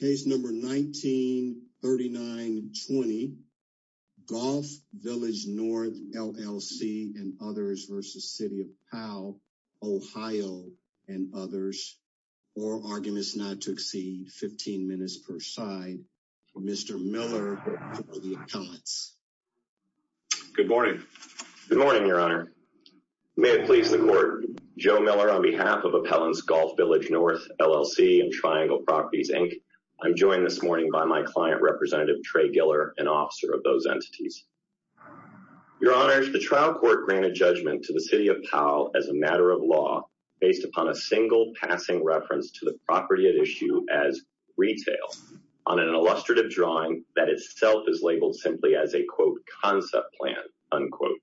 Case number 1939-20, Golf Village North LLC and others versus City of Powell OH and others. Oral arguments not to exceed 15 minutes per side. Mr. Miller for the appellants. Good morning. Good morning, your honor. May it please the court. Joe Miller on behalf of I'm joined this morning by my client representative Trey Giller, an officer of those entities. Your honor, the trial court granted judgment to the City of Powell as a matter of law based upon a single passing reference to the property at issue as retail on an illustrative drawing that itself is labeled simply as a quote concept plan, unquote,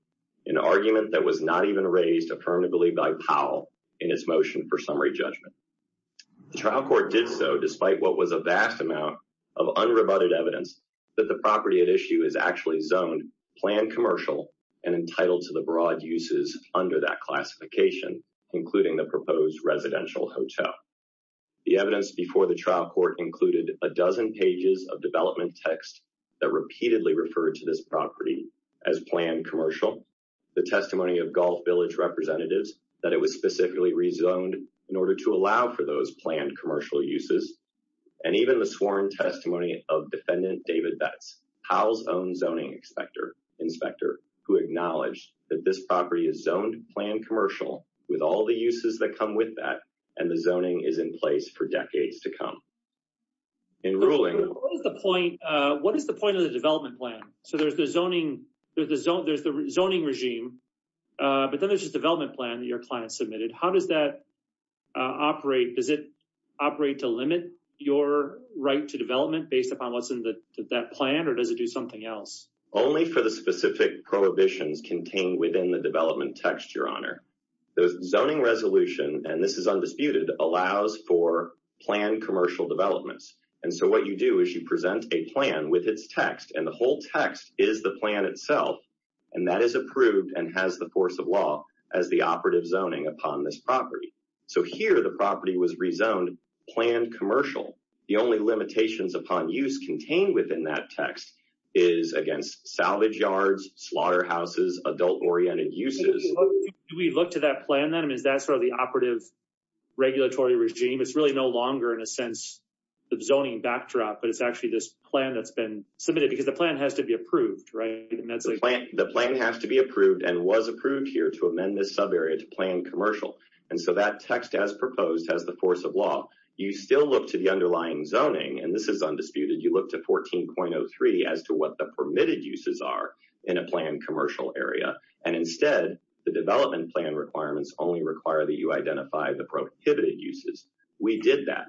an argument that was not even raised affirmatively by Powell in his motion for summary judgment. The trial court did so despite what was a vast amount of unrebutted evidence that the property at issue is actually zoned planned commercial and entitled to the broad uses under that classification, including the proposed residential hotel. The evidence before the trial court included a dozen pages of development text that repeatedly referred to this property as planned commercial. The testimony of Golf Village representatives that it was specifically rezoned in order to allow for planned commercial uses, and even the sworn testimony of defendant David Betts, Powell's own zoning inspector, who acknowledged that this property is zoned planned commercial with all the uses that come with that and the zoning is in place for decades to come. In ruling, what is the point of the development plan? So there's the zoning regime, but then there's this development plan that your client submitted. How does that operate? Does it operate to limit your right to development based upon what's in that plan or does it do something else? Only for the specific prohibitions contained within the development text, your honor. The zoning resolution, and this is undisputed, allows for planned commercial developments. And so what you do is you present a plan with its text and the whole text is the plan itself and that is approved and has the force of law as the operative zoning upon this property. So here the property was rezoned planned commercial. The only limitations upon use contained within that text is against salvage yards, slaughterhouses, adult-oriented uses. Do we look to that plan then? Is that sort of the operative regulatory regime? It's really no longer in a sense of zoning backdrop, but it's actually this plan that's been submitted because the plan has to be approved, right? The plan has to be approved and was approved here to amend this text as proposed as the force of law. You still look to the underlying zoning and this is undisputed. You look to 14.03 as to what the permitted uses are in a planned commercial area. And instead the development plan requirements only require that you identify the prohibited uses. We did that.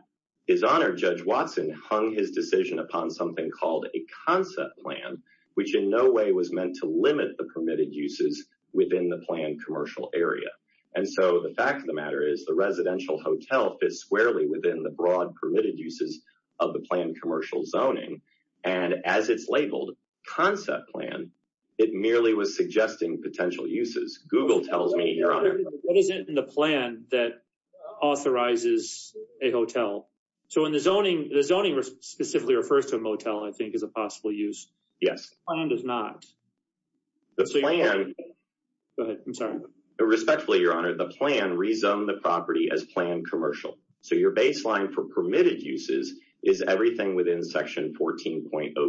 His honor, Judge Watson hung his decision upon something called a concept plan, which in no way was meant to limit the permitted uses within the planned commercial area. And so the fact of the matter is the residential hotel fits squarely within the broad permitted uses of the planned commercial zoning. And as it's labeled concept plan, it merely was suggesting potential uses. Google tells me your honor. What is it in the plan that authorizes a hotel? So in the zoning, the zoning specifically refers to a motel, I think is a possible use. Yes. The plan does not. The plan. Go ahead. I'm sorry. Respectfully, your honor, the plan rezoned the property as planned commercial. So your baseline for permitted uses is everything within section 14.03.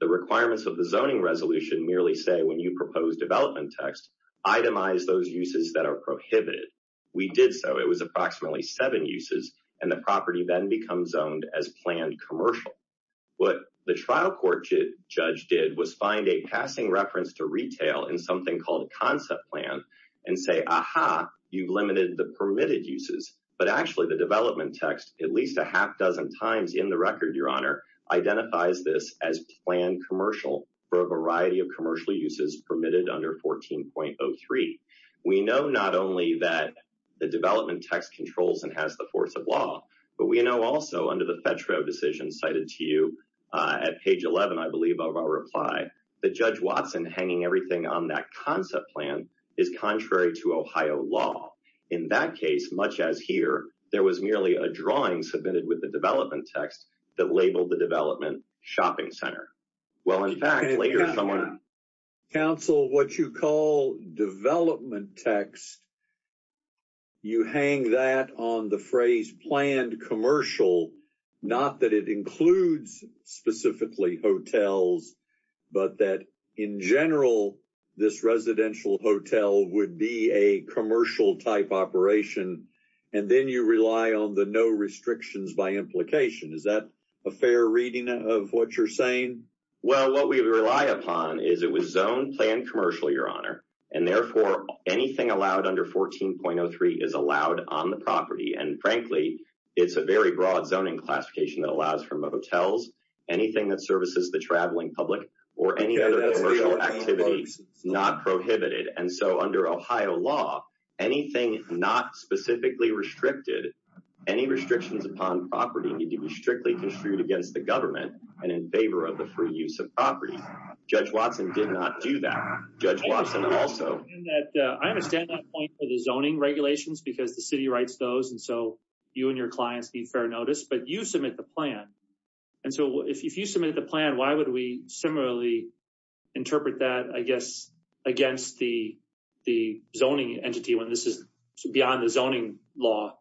The requirements of the zoning resolution merely say when you propose development text, itemize those uses that are prohibited. We did so. It was approximately seven uses. And the property then becomes owned as planned commercial. What the trial court judge did was find a passing reference to retail in something called a concept plan and say, aha, you've limited the permitted uses, but actually the development text, at least a half dozen times in the record, your honor identifies this as planned commercial for a variety of commercial uses permitted under 14.03. We know not only that the development text controls and has the force of law, but we know also under the federal decision cited to you, uh, at page 11, I believe of our reply, the judge Watson hanging everything on that concept plan is contrary to Ohio law. In that case, much as here, there was merely a drawing submitted with the development text that labeled the development shopping center. Well, in fact, later, someone counsel, what you call development text, you hang that on the phrase planned commercial, not that it includes specifically hotels, but that in general, this residential hotel would be a commercial type operation. And then you rely on the no restrictions by implication. Is that a fair reading of what you're saying? Well, what we rely upon is it was zoned planned commercial, your honor. And therefore anything allowed under 14.03 is allowed on the property. And frankly, it's a very broad zoning classification that allows for motels, anything that services the anything not specifically restricted any restrictions upon property need to be strictly construed against the government and in favor of the free use of property. Judge Watson did not do that. Judge Watson also, I understand that point for the zoning regulations, because the city writes those. And so you and your clients need fair notice, but you submit the plan. And so if you submit the plan, why would we similarly interpret that? I guess against the, the zoning entity when this is beyond the zoning law.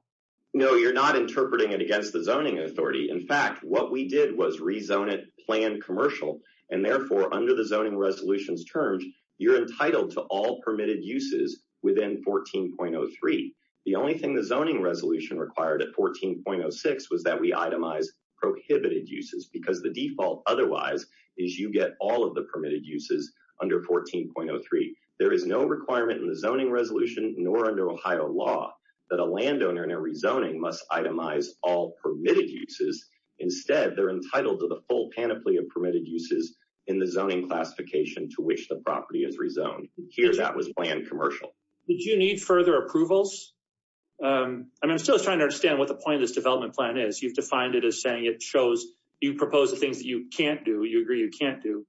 No, you're not interpreting it against the zoning authority. In fact, what we did was rezone it planned commercial. And therefore under the zoning resolutions terms, you're entitled to all permitted uses within 14.03. The only thing, the zoning resolution required at 14.06 was that we itemize prohibited uses because the default requirement in the zoning resolution, nor under Ohio law that a landowner in a rezoning must itemize all permitted uses. Instead, they're entitled to the full panoply of permitted uses in the zoning classification to which the property is rezoned. Here, that was planned commercial. Did you need further approvals? I mean, I'm still trying to understand what the point of this development plan is. You've defined it as saying it shows you propose the things that you can't do. You agree you can't do.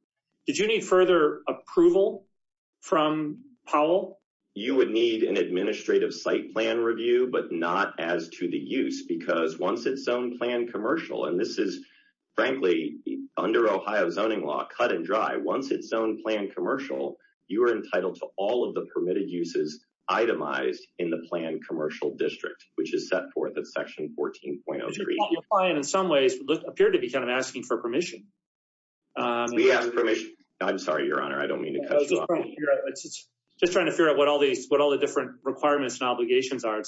Did you need further approval from Powell? You would need an administrative site plan review, but not as to the use because once it's zoned plan commercial, and this is frankly under Ohio zoning law, cut and dry. Once it's zoned plan commercial, you are entitled to all of the permitted uses itemized in the plan commercial district, which is set forth at section 14.03 in some ways appear to be kind of asking for permission. We ask permission. I'm sorry, Your Honor, I don't mean to cut you off. Just trying to figure out what all the different requirements and obligations are.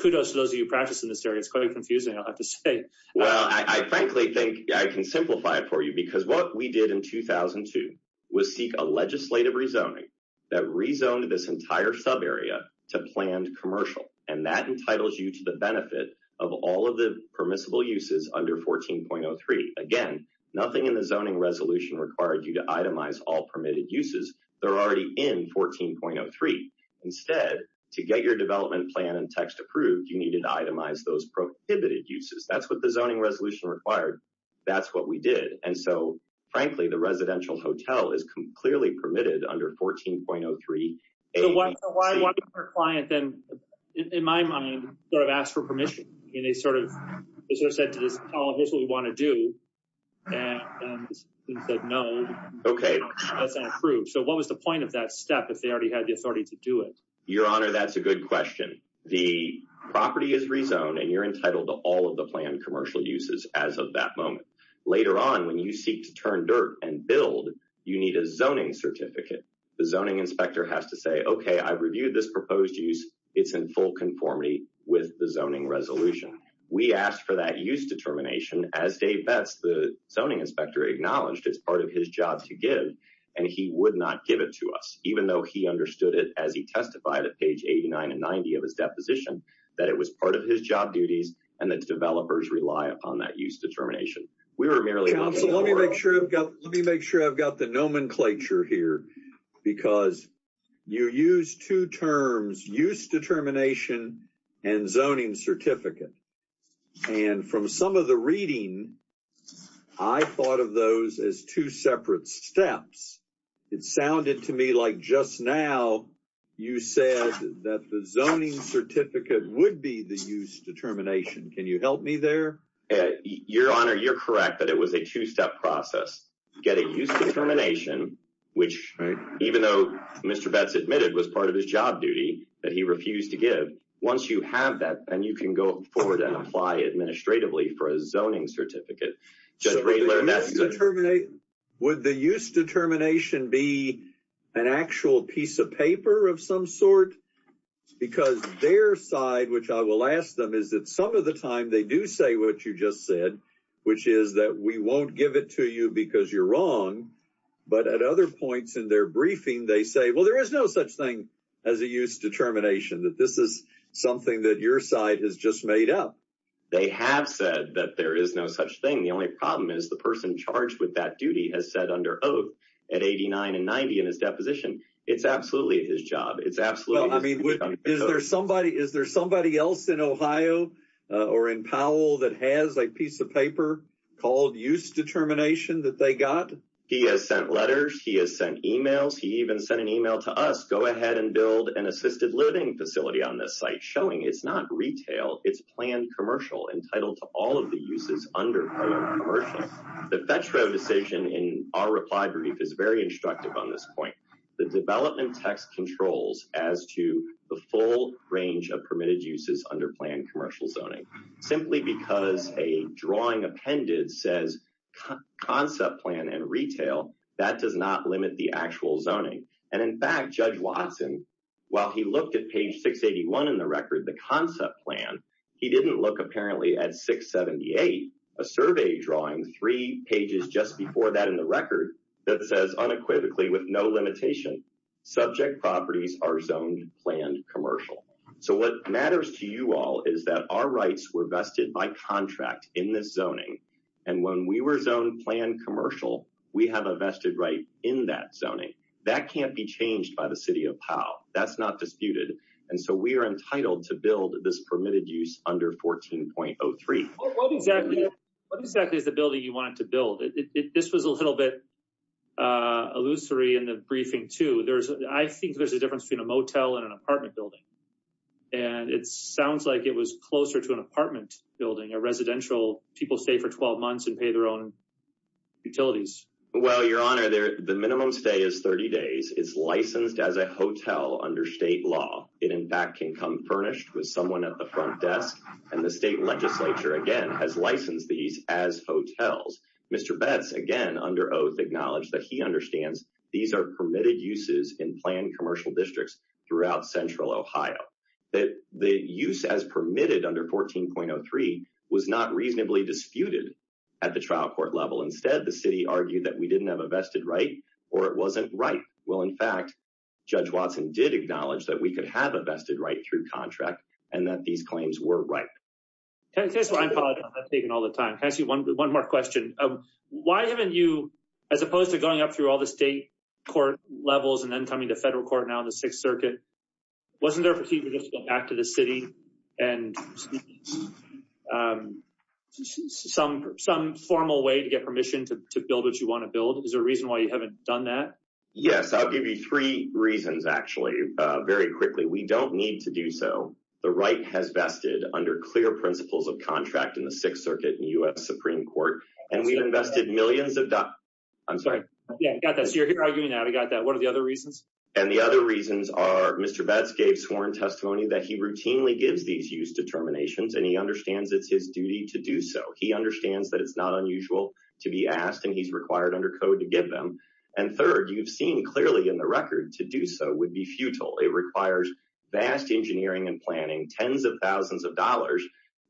Kudos to those of you practicing this area. It's quite confusing, I'll have to say. Well, I frankly think I can simplify it for you because what we did in 2002 was seek a legislative rezoning that rezoned this entire sub area to planned commercial, and that entitles you to the benefit of all of the resolution required you to itemize all permitted uses. They're already in 14.03. Instead, to get your development plan and text approved, you needed to itemize those prohibited uses. That's what the zoning resolution required. That's what we did. And so frankly, the residential hotel is clearly permitted under 14.03. So why would our client then, in my mind, sort of ask for no? Okay. So what was the point of that step if they already had the authority to do it? Your Honor, that's a good question. The property is rezoned and you're entitled to all of the planned commercial uses as of that moment. Later on, when you seek to turn dirt and build, you need a zoning certificate. The zoning inspector has to say, okay, I've reviewed this proposed use. It's in full conformity with the zoning resolution. We asked for that use determination. As Dave Betts, the zoning inspector, acknowledged, it's part of his job to give, and he would not give it to us, even though he understood it as he testified at page 89 and 90 of his deposition that it was part of his job duties and that developers rely upon that use determination. We were merely- Let me make sure I've got the nomenclature here, because you used two terms, use determination and zoning certificate. And from some of the reading, I thought of those as two separate steps. It sounded to me like just now you said that the zoning certificate would be the use determination. Can you help me there? Your Honor, you're correct that it was a two-step process. You get a use determination, which even though Mr. Betts admitted was part of his job duty that he refused to give, once you have that, then you can go forward and apply administratively for a zoning certificate. Would the use determination be an actual piece of paper of some sort? Because their side, which I will ask them, is that some of the time they do say what you just said, which is that we won't give it to you because you're wrong. But at other points in their briefing, they say, well, there is no such thing as a use determination, that this is something that your side has just made up. They have said that there is no such thing. The only problem is the person charged with that duty has said under oath at 89 and 90 in his deposition, it's absolutely his job. It's absolutely- Is there somebody else in Ohio or in Powell that has a piece of paper called use determination that they got? He has sent letters. He has sent emails. He even sent an email to us, go ahead and build an assisted living facility on this site, showing it's not retail, it's planned commercial entitled to all of the uses under commercial. The Fetch Road decision in our reply brief is very instructive on this point. The development text controls as to the full range of permitted uses under planned commercial zoning, simply because a drawing appended says concept plan and retail, that does not limit the actual zoning. And in fact, Judge Watson, while he looked at page 681 in the record, the concept plan, he didn't look apparently at 678, a survey drawing three pages just before that in the record that says unequivocally with no limitation, subject properties are zoned planned commercial. So what matters to you all is that our rights were vested by contract in this zoning, and when we were zoned planned commercial, we have a vested right in that zoning. That can't be changed by the city of Powell. That's not disputed. And so we are entitled to build this permitted use under 14.03. What exactly is the building you wanted to build? This was a little bit illusory in the briefing too. I think there's a difference between a motel and an apartment building. And it sounds like it was closer to an apartment building, a residential, people stay for 12 months and pay their own utilities. Well, your honor, the minimum stay is 30 days. It's licensed as a hotel under state law. It in fact can come furnished with someone at the front desk, and the state legislature, again, has licensed these as hotels. Mr. Betz, again, under oath acknowledged that he understands these are permitted uses in planned commercial districts throughout central Ohio. The use as permitted under 14.03 was not reasonably disputed at the trial court level. Instead, the city argued that we didn't have a vested right or it wasn't right. Well, in fact, Judge Watson did acknowledge that we could have a vested right through contract and that these claims were right. I apologize, I'm taking all the time. Can I ask you one more question? Why haven't you, as opposed to going up through all the state court levels and then federal court now in the Sixth Circuit, wasn't there a procedure just to go back to the city and some formal way to get permission to build what you want to build? Is there a reason why you haven't done that? Yes, I'll give you three reasons, actually, very quickly. We don't need to do so. The right has vested under clear principles of contract in the Sixth Circuit and U.S. Supreme Court, and we've invested millions of dollars. I'm sorry. Yeah, I got that. What are the other reasons? And the other reasons are Mr. Betz gave sworn testimony that he routinely gives these use determinations and he understands it's his duty to do so. He understands that it's not unusual to be asked and he's required under code to give them. And third, you've seen clearly in the record to do so would be futile. It requires vast engineering and planning, tens of thousands of dollars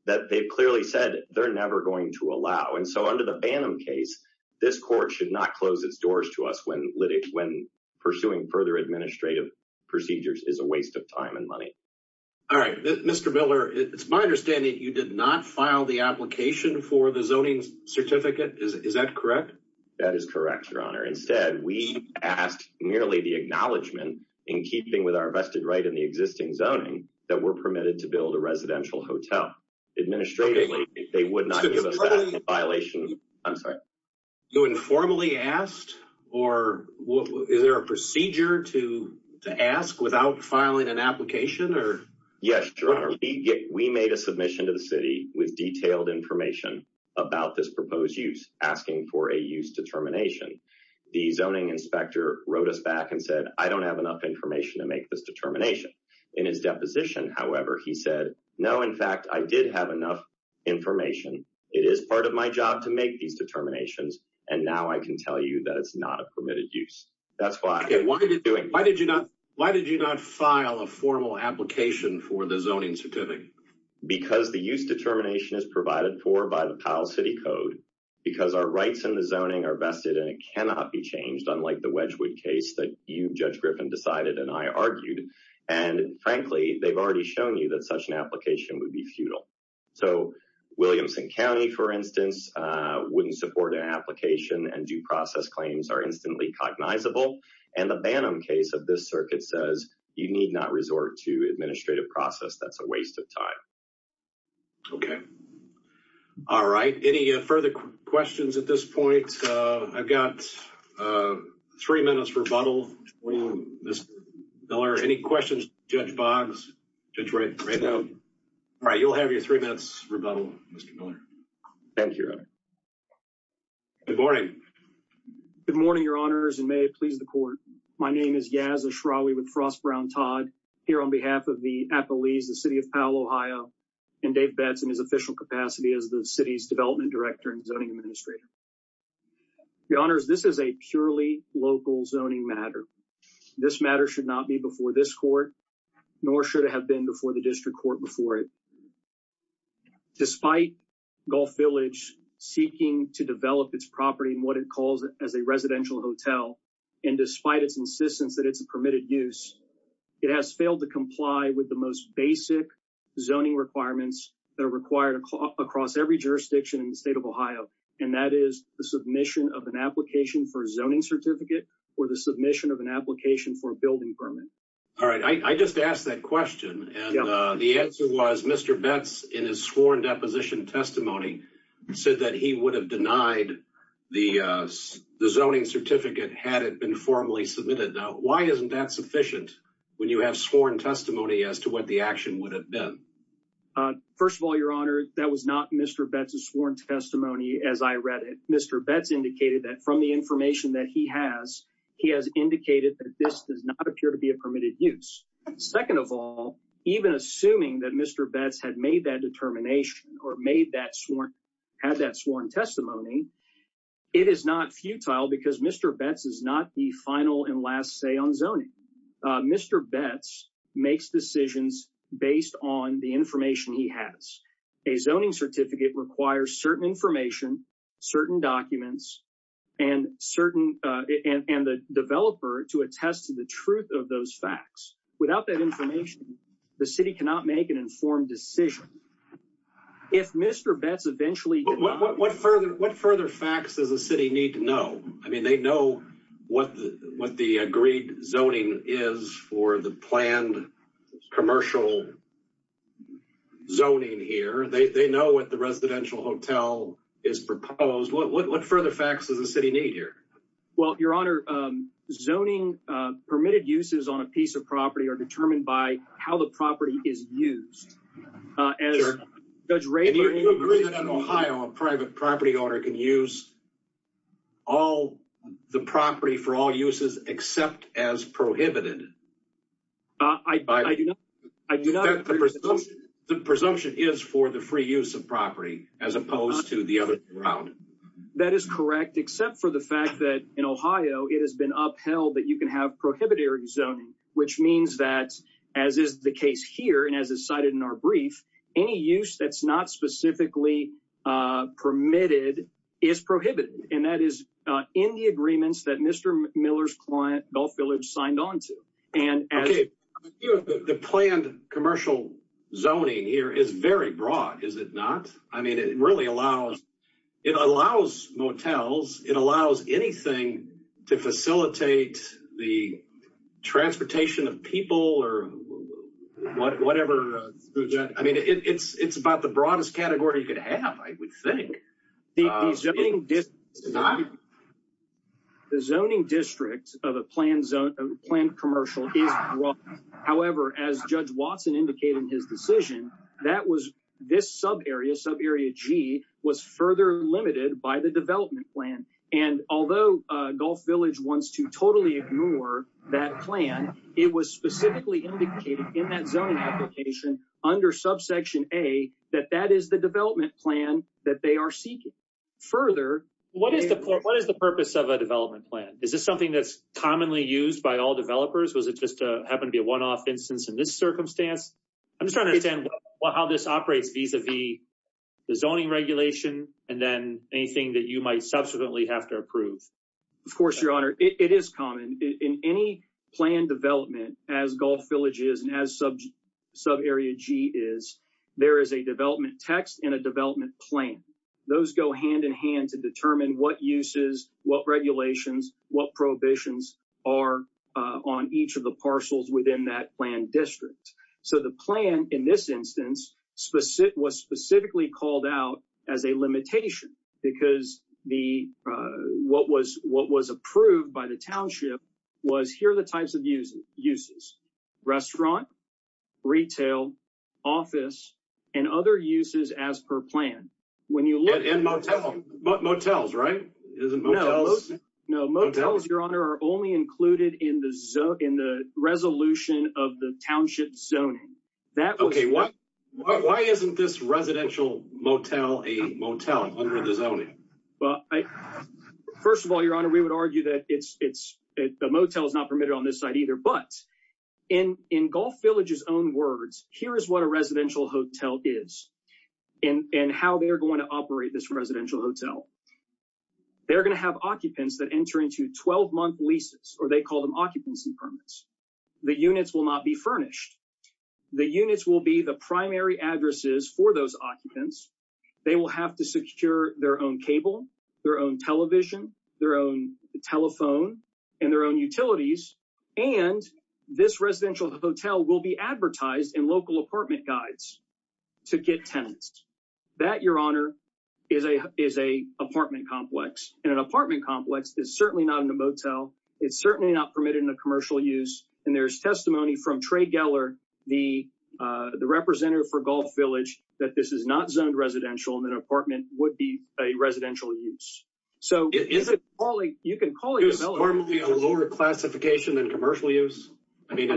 that they've clearly said they're never going to allow. And so under the Banham case, this court should not close its doors to us when pursuing further administrative procedures is a waste of time and money. All right. Mr. Miller, it's my understanding you did not file the application for the zoning certificate. Is that correct? That is correct, Your Honor. Instead, we asked merely the acknowledgement in keeping with our vested right in the existing zoning that we're permitted to build a residential hotel. Administratively, they would not give us that violation. I'm sorry. You informally asked or is there a procedure to ask without filing an application? Yes, Your Honor. We made a submission to the city with detailed information about this proposed use asking for a use determination. The zoning inspector wrote us back and said, I don't have enough information to make this determination. In his deposition, however, he said, no, in fact, I did have enough information. It is part of my job to make these determinations. And now I can tell you that it's not a permitted use. That's why. Why did you not file a formal application for the zoning certificate? Because the use determination is provided for by the Powell City Code, because our rights in the zoning are vested and it cannot be changed, unlike the Wedgwood case that you, Judge Griffin, decided and I argued. And frankly, they've already shown you that such an application would be futile. So Williamson County, for instance, wouldn't support an application and due process claims are instantly cognizable. And the Bannum case of this circuit says you need not resort to administrative process. That's a waste of time. Okay. All right. Any further questions at this point? I've got three minutes for rebuttal. Mr. Miller, any questions for Judge Boggs? All right. You'll have your three minutes rebuttal, Mr. Miller. Thank you. Good morning. Good morning, Your Honors, and may it please the court. My name is Yaz Ashrawi with Frost, Brown, Todd here on behalf of the Appalese, the city of Powell, Ohio, and Dave Betts in his official capacity as the city's development director and zoning administrator. Your Honors, this is a purely local zoning matter. This matter should not be before this court, nor should it have been before the district court before it. Despite Gulf Village seeking to develop its property in what it calls as a residential hotel, and despite its insistence that it's a permitted use, it has failed to comply with the most basic zoning requirements that are required across every jurisdiction in the state of Ohio that is the submission of an application for a zoning certificate or the submission of an application for a building permit. All right. I just asked that question, and the answer was Mr. Betts in his sworn deposition testimony said that he would have denied the zoning certificate had it been formally submitted. Now, why isn't that sufficient when you have sworn testimony as to what the action would have been? First of all, Your Honor, that was not Mr. Betts' sworn testimony, Mr. Betts indicated that from the information that he has, he has indicated that this does not appear to be a permitted use. Second of all, even assuming that Mr. Betts had made that determination or had that sworn testimony, it is not futile because Mr. Betts is not the final and last say on zoning. Mr. Betts makes decisions based on the information he has. A zoning certificate requires certain information, certain documents, and the developer to attest to the truth of those facts. Without that information, the city cannot make an informed decision. If Mr. Betts eventually... What further facts does the city need to know? I mean, they know what the agreed zoning is for the is proposed. What further facts does the city need here? Well, Your Honor, zoning permitted uses on a piece of property are determined by how the property is used. If you agree that in Ohio, a private property owner can use all the property for all uses except as prohibited. I do not... The presumption is for the free use of property as opposed to the other route. That is correct, except for the fact that in Ohio, it has been upheld that you can have prohibitary zoning, which means that, as is the case here and as is cited in our brief, any use that's not specifically permitted is prohibited. And that is in the agreements that Mr. Miller's client, Gulf Village, signed on to. Okay, the planned commercial zoning here is very broad, is it not? I mean, it really allows motels. It allows anything to facilitate the transportation of people or whatever. I mean, it's about the broadest category you could have, I would think. The zoning district of a planned commercial is broad. However, as Judge Watson indicated in his decision, this subarea, subarea G, was further limited by the development plan. And although Gulf Village wants to totally ignore that plan, it was specifically indicated in that application under subsection A, that that is the development plan that they are seeking. Further... What is the purpose of a development plan? Is this something that's commonly used by all developers? Was it just happened to be a one-off instance in this circumstance? I'm just trying to understand how this operates vis-a-vis the zoning regulation and then anything that you might subsequently have to approve. Of course, Your Honor, it is common in any planned development, as Gulf Village is and as subarea G is, there is a development text and a development plan. Those go hand-in-hand to determine what uses, what regulations, what prohibitions are on each of the parcels within that planned district. So the plan, in this instance, was specifically called out as a limitation because what was approved by the township was here are the types of uses. Restaurant, retail, office, and other uses as per plan. And motels, right? Isn't motels? No, motels, Your Honor, are only included in the resolution of the township zoning. Okay, why isn't this residential motel a motel under the zoning? Well, first of all, Your Honor, we would argue that the motel is not permitted on this site either. But in Gulf Village's own words, here is what a residential hotel is and how they're going to operate this residential hotel. They're going to have occupants that enter into 12-month leases, or they call them occupancy permits. The units will not be furnished. The units will be the primary addresses for those occupants. They will have to secure their own cable, their own television, their own telephone, and their own utilities. And this residential hotel will be advertised in local apartment guides to get tenants. That, Your Honor, is an apartment complex. And an apartment complex is certainly not in a motel. It's certainly not permitted in a commercial use. And there's testimony from Trey Geller, the representative for Gulf Village, that this is not zoned residential and that an apartment would be a residential use. So, you can call it a motel. Is it normally a lower classification than commercial use? I mean,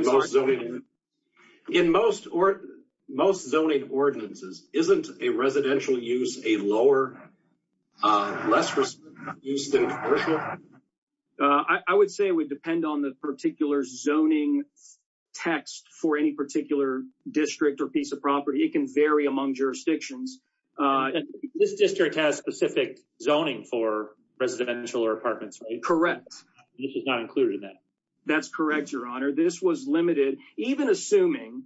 in most zoning ordinances, isn't a residential use a lower, less used than commercial? I would say it would depend on the particular zoning text for any district or piece of property. It can vary among jurisdictions. This district has specific zoning for residential or apartments, right? Correct. This is not included in that? That's correct, Your Honor. This was limited, even assuming...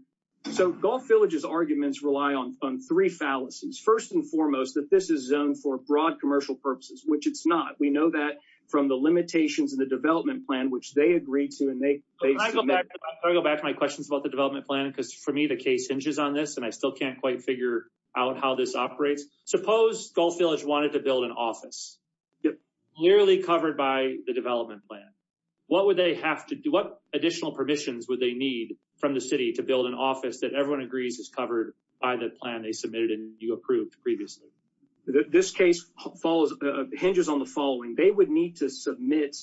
So, Gulf Village's arguments rely on three fallacies. First and foremost, that this is zoned for broad commercial purposes, which it's not. We know that from the limitations of the development plan, which they agreed to. Can I go back to my questions about the development plan? Because for me, the case hinges on this, and I still can't quite figure out how this operates. Suppose Gulf Village wanted to build an office, clearly covered by the development plan. What additional permissions would they need from the city to build an office that everyone agrees is covered by the plan they submitted and you approved previously? This case hinges on the following. They would need to submit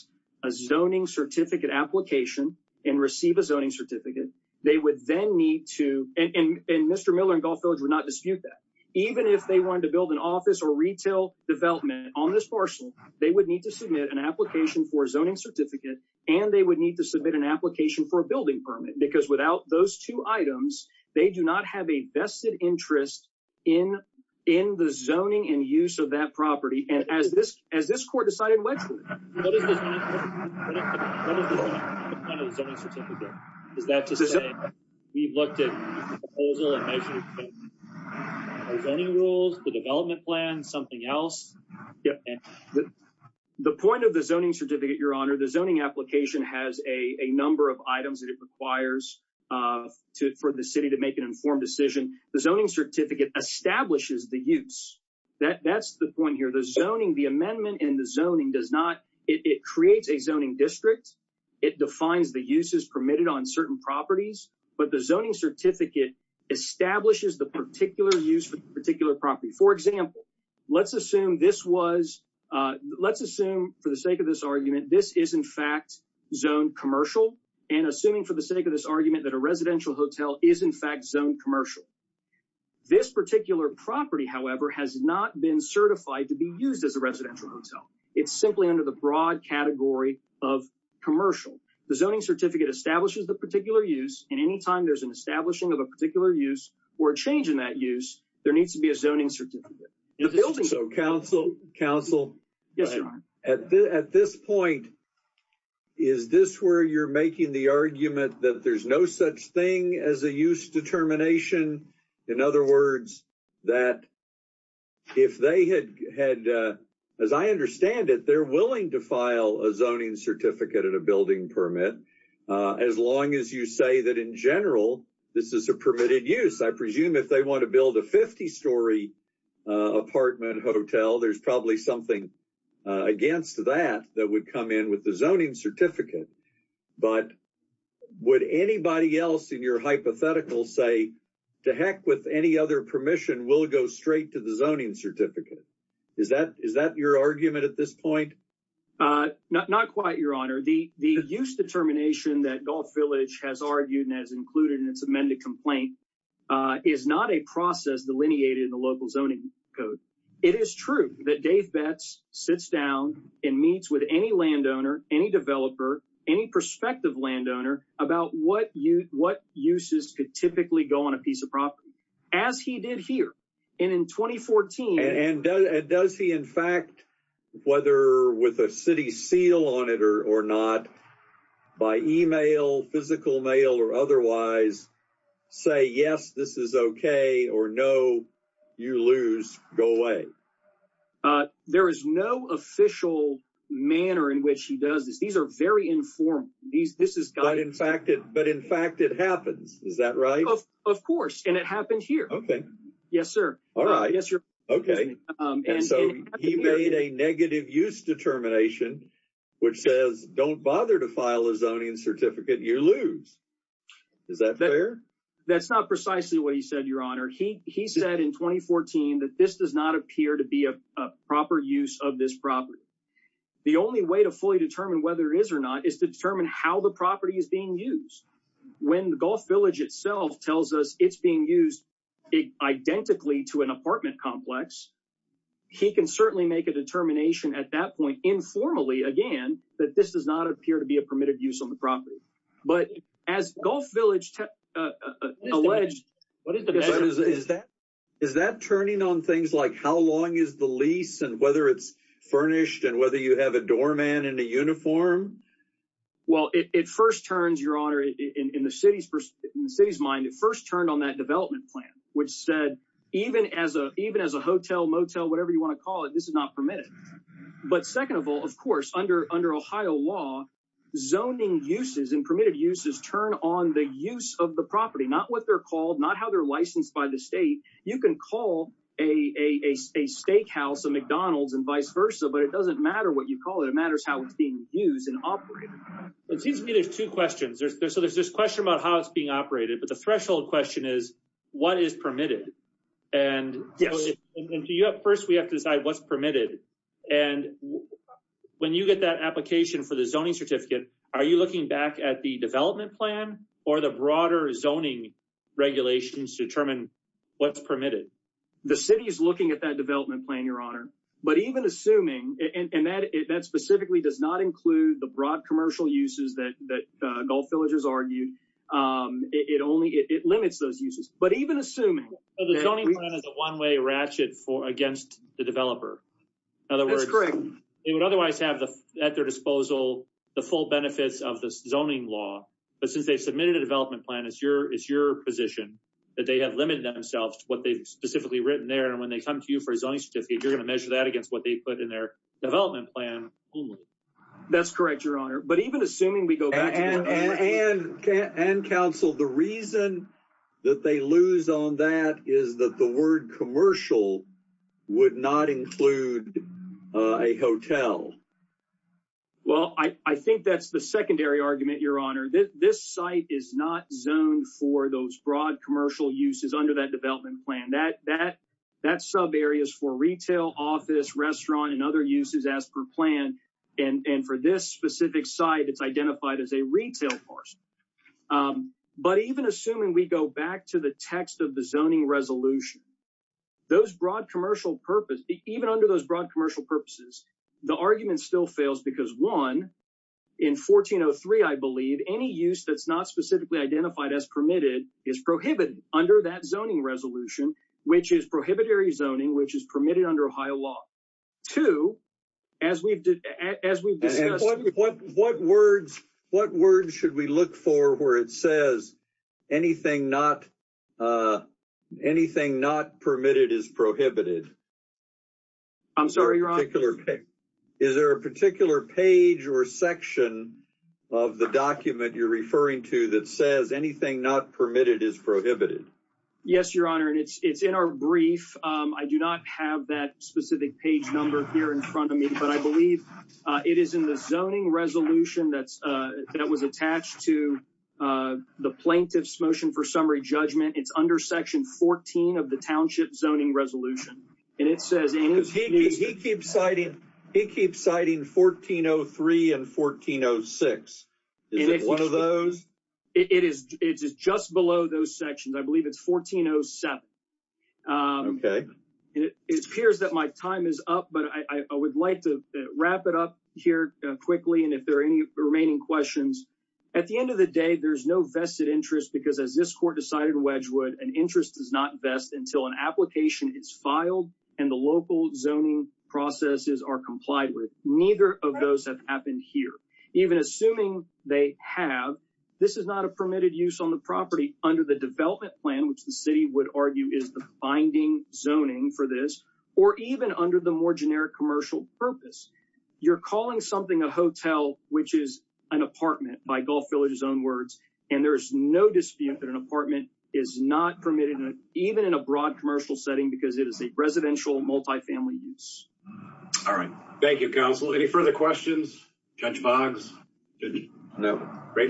a zoning certificate application and receive a zoning certificate. They would then need to... And Mr. Miller and Gulf Village would not dispute that. Even if they wanted to build an office or retail development on this parcel, they would need to submit an application for a zoning certificate and they would need to submit an application for a building permit. Because without those two items, they do not have a vested interest in the zoning and use of that property, and as this court decided, which one? What is the point of the zoning certificate? Is that to say we've looked at the proposal and measured the zoning rules, the development plan, something else? The point of the zoning certificate, Your Honor, the zoning application has a number of items that it requires for the city to make an informed decision. The zoning the amendment and the zoning does not, it creates a zoning district. It defines the uses permitted on certain properties, but the zoning certificate establishes the particular use for the particular property. For example, let's assume for the sake of this argument, this is in fact zoned commercial and assuming for the sake of this argument that a residential hotel is in fact zoned commercial. This particular property, however, has not been certified to be used as a residential hotel. It's simply under the broad category of commercial. The zoning certificate establishes the particular use and anytime there's an establishing of a particular use or a change in that use, there needs to be a zoning certificate. So counsel, counsel, at this point, is this where you're making the argument that there's no such thing as a use determination? In other words, that if they had had, as I understand it, they're willing to file a zoning certificate and a building permit as long as you say that in general, this is a permitted use. I presume if they want to build a 50-story apartment hotel, there's probably something against that that would come in with the zoning certificate. But would anybody else in your hypothetical say, to heck with any other permission, we'll go straight to the zoning certificate? Is that your argument at this point? Not quite, your honor. The use determination that Gulf Village has argued and has included in its amended complaint is not a process delineated in the local zoning code. It is true that Dave Betts sits down and meets with any landowner, any developer, any prospective landowner about what uses could typically go on a piece of property, as he did here. And in 2014... And does he, in fact, whether with a city seal on it or not, by email, physical mail, or otherwise, say yes, this is okay, or no, you lose, go away? There is no official manner in which he does this. These are very informal. But in fact, it happens, is that right? Of course, and it happened here. Okay. Yes, sir. All right. Okay. And so he made a negative use determination, which says don't bother to file a zoning certificate, you lose. Is that fair? That's not to be a proper use of this property. The only way to fully determine whether it is or not is to determine how the property is being used. When the Gulf Village itself tells us it's being used identically to an apartment complex, he can certainly make a determination at that point, informally, again, that this does not appear to be a permitted use on the property. But as Gulf Village alleged... Is that turning on things like how long is the lease, and whether it's furnished, and whether you have a doorman in a uniform? Well, it first turns, Your Honor, in the city's mind, it first turned on that development plan, which said even as a hotel, motel, whatever you want to call it, this is not permitted. But second of all, of course, under Ohio law, zoning uses and permitted uses turn on the use of the property, not what they're called, not how they're licensed by the state. You can call a steakhouse, a McDonald's, and vice versa, but it doesn't matter what you call it. It matters how it's being used and operated. It seems to me there's two questions. So there's this question about how it's being operated, but the threshold question is what is permitted? And first we have to decide what's permitted. And when you get that application for the zoning certificate, are you looking back at the development plan or the broader zoning regulations to determine what's permitted? The city is looking at that development plan, Your Honor. But even assuming, and that specifically does not include the broad commercial uses that Gulf Villages argued, it limits those uses. But even assuming- So the zoning plan is a one-way ratchet against the developer. That's correct. In other words, they would otherwise have at their disposal the full benefits of the zoning law. But since they submitted a development plan, it's your position that they have limited themselves to what they've specifically written there. And when they come to you for a zoning certificate, you're going to measure that against what they put in their development plan only. That's correct, Your Honor. But even assuming we go back- And counsel, the reason that they lose on that is that the word commercial would not include a hotel. Well, I think that's the secondary argument, Your Honor. This site is not zoned for those broad commercial uses under that development plan. That sub area is for retail, office, restaurant, and other uses as per plan. And for this specific site, it's identified as a retail parcel. But even assuming we go back to the text of the zoning resolution, those broad commercial purpose, even under those broad commercial purposes, the argument still fails because, one, in 1403, I believe, any use that's not specifically identified as permitted is prohibited under that zoning resolution, which is prohibitory zoning, which is permitted under Ohio law. Two, as we've discussed- And what words should we look for where it says anything not permitted is prohibited? I'm sorry, Your Honor? Is there a particular page or section of the document you're referring to that says anything not permitted is prohibited? Yes, Your Honor, and it's in our brief. I do not have that specific page number here in front of me, but I believe it is in the zoning resolution that was attached to the Plaintiff's Motion for Summary Judgment. It's under Section 14 of the Township Zoning Resolution, and it says- He keeps citing 1403 and 1406. Is it one of those? It is just below those sections. I believe it's 1407. Okay. It appears that my time is up, but I would like to wrap it up here quickly, and if there are any remaining questions, at the end of the day, there's no vested interest because, as this Court decided Wedgwood, an interest does not vest until an application is filed and the local zoning processes are complied with. Neither of those have happened here. Even assuming they have, this is not a permitted use on the property under the development plan, which the City would argue is the binding zoning for this, or even under the more generic commercial purpose. You're calling something a hotel, which is an apartment, by Gulf Village's own words, and there is no dispute that an apartment is not permitted, even in a broad commercial setting, because it is a residential multifamily use. All right. Thank you, Counsel. Any further questions? Judge Boggs? No. All right.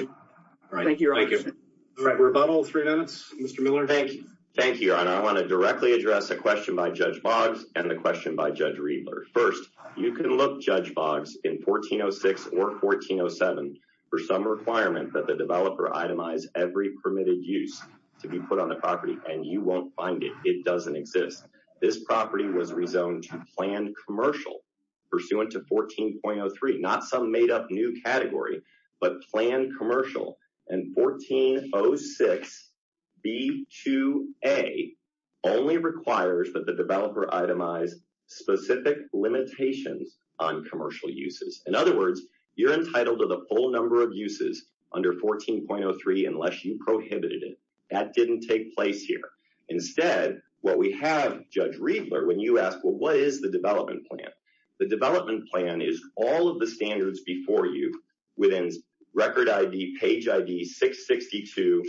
Thank you. Thank you. All right. Rebuttal. Three minutes. Mr. Miller. Thank you. Thank you. And I want to directly address a question by Judge Boggs and a question by Judge Riedler. First, you can look, Judge Boggs, in 1406 or 1407 for some requirement that the developer itemize every permitted use to be put on the property, and you won't find it. It pursuant to 14.03, not some made-up new category, but planned commercial in 1406B2A only requires that the developer itemize specific limitations on commercial uses. In other words, you're entitled to the full number of uses under 14.03 unless you prohibited it. That didn't take place here. Instead, what we have, Judge Riedler, when you ask, well, what is the development plan? The development plan is all of the standards before you within Record ID, Page ID 662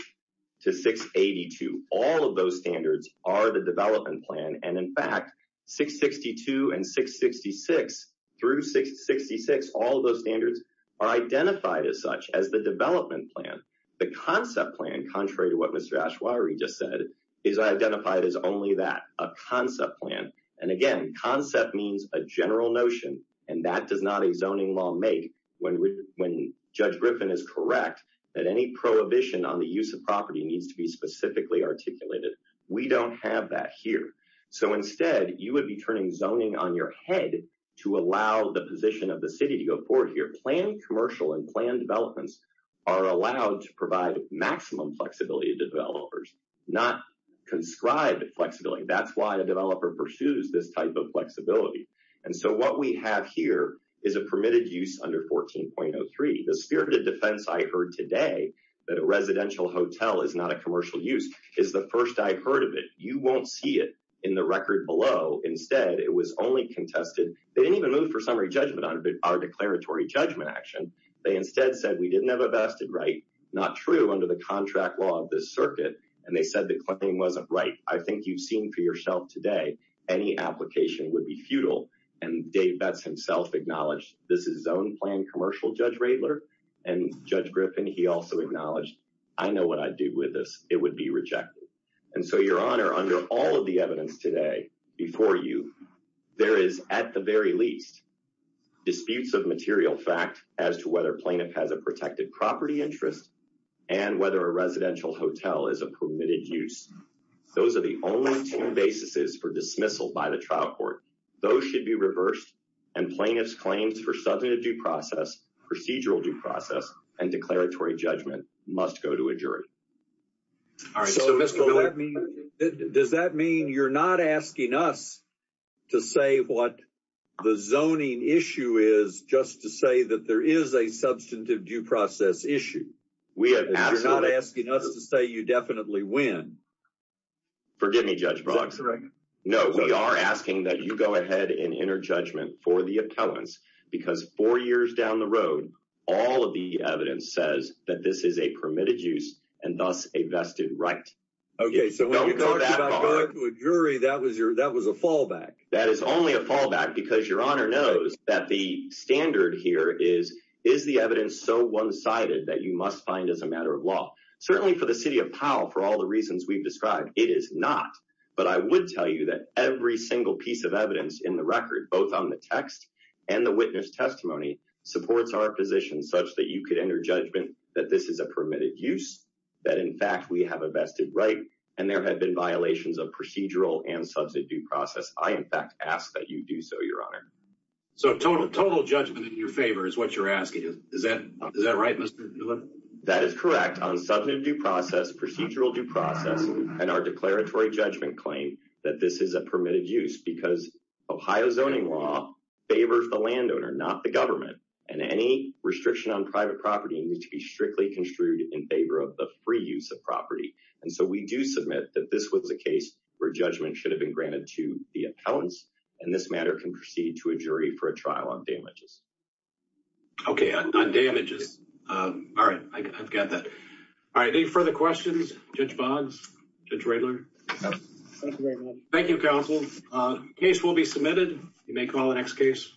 to 682. All of those standards are the development plan. And in fact, 662 and 666 through 666, all of those standards are identified as such as the development plan. The concept plan, contrary to what Mr. Ashwari just said, is identified as only that, a concept plan. And again, concept means a general notion, and that does not a zoning law make when Judge Griffin is correct that any prohibition on the use of property needs to be specifically articulated. We don't have that here. So instead, you would be turning zoning on your head to allow the position of the city to go forward here. Planned commercial and planned developments are allowed to provide maximum flexibility to developers, not conscribed flexibility. That's why a developer pursues this type of flexibility. And so what we have here is a permitted use under 14.03. The spirited defense I heard today that a residential hotel is not a commercial use is the first I've heard of it. You won't see it in the record below. Instead, it was only contested. They didn't even move for summary judgment on our declaratory judgment action. They instead said we didn't have a vested right, not true under the contract law of this circuit, and they said the claim wasn't right. I think you've seen for yourself today, any application would be futile. And Dave Betts himself acknowledged this is his own planned commercial, Judge Radler. And Judge Griffin, he also acknowledged, I know what I'd do with this. It would be rejected. And so, Your Honor, under all of the evidence today before you, there is, at the very least, disputes of material fact as to whether a plaintiff has a protected property interest and whether a residential hotel is a permitted use. Those are the only two basis for dismissal by the trial court. Those should be reversed, and plaintiff's claims for substantive due process, procedural due process, and declaratory judgment must go to a jury. All right. So, Mr. Bill, does that mean you're not asking us to say what the zoning issue is just to say that there is a substantive due process issue? We have asked. You're not asking us to say you definitely win. Forgive me, Judge Boggs. No, we are asking that you go ahead and enter judgment for the appellants, because four years down the road, all of the evidence says that this is a permitted use and thus a vested right. Okay, so when you talked about going to a jury, that was a fallback. That is only a fallback because Your Honor knows that the standard here is, is the evidence so one-sided that you must find as a matter of law? Certainly for the city of Powell, for all the reasons we've described, it is not. But I would tell you that every single piece of evidence in the record, both on the text and the witness testimony, supports our position such that you could enter judgment that this is a permitted use, that in fact, we have a vested right, and there have been violations of procedural and substantive due process. I, in fact, ask that you do so, Your Honor. So total judgment in your favor is what you're asking. Is that right, Mr. Newman? That is correct. On substantive due process, procedural due process, and our declaratory judgment claim that this is a permitted use because Ohio zoning law favors the landowner, not the government. And any restriction on private property needs to be strictly construed in favor of the free use of property. And so we do submit that this was a case where judgment should have been granted to the appellants. And this matter can proceed to a jury for a trial on damages. Okay, on damages. All right, I've got that. All right, any further questions? Judge Boggs? Judge Radler? Thank you, counsel. Case will be submitted. You may call the next case. Thank you.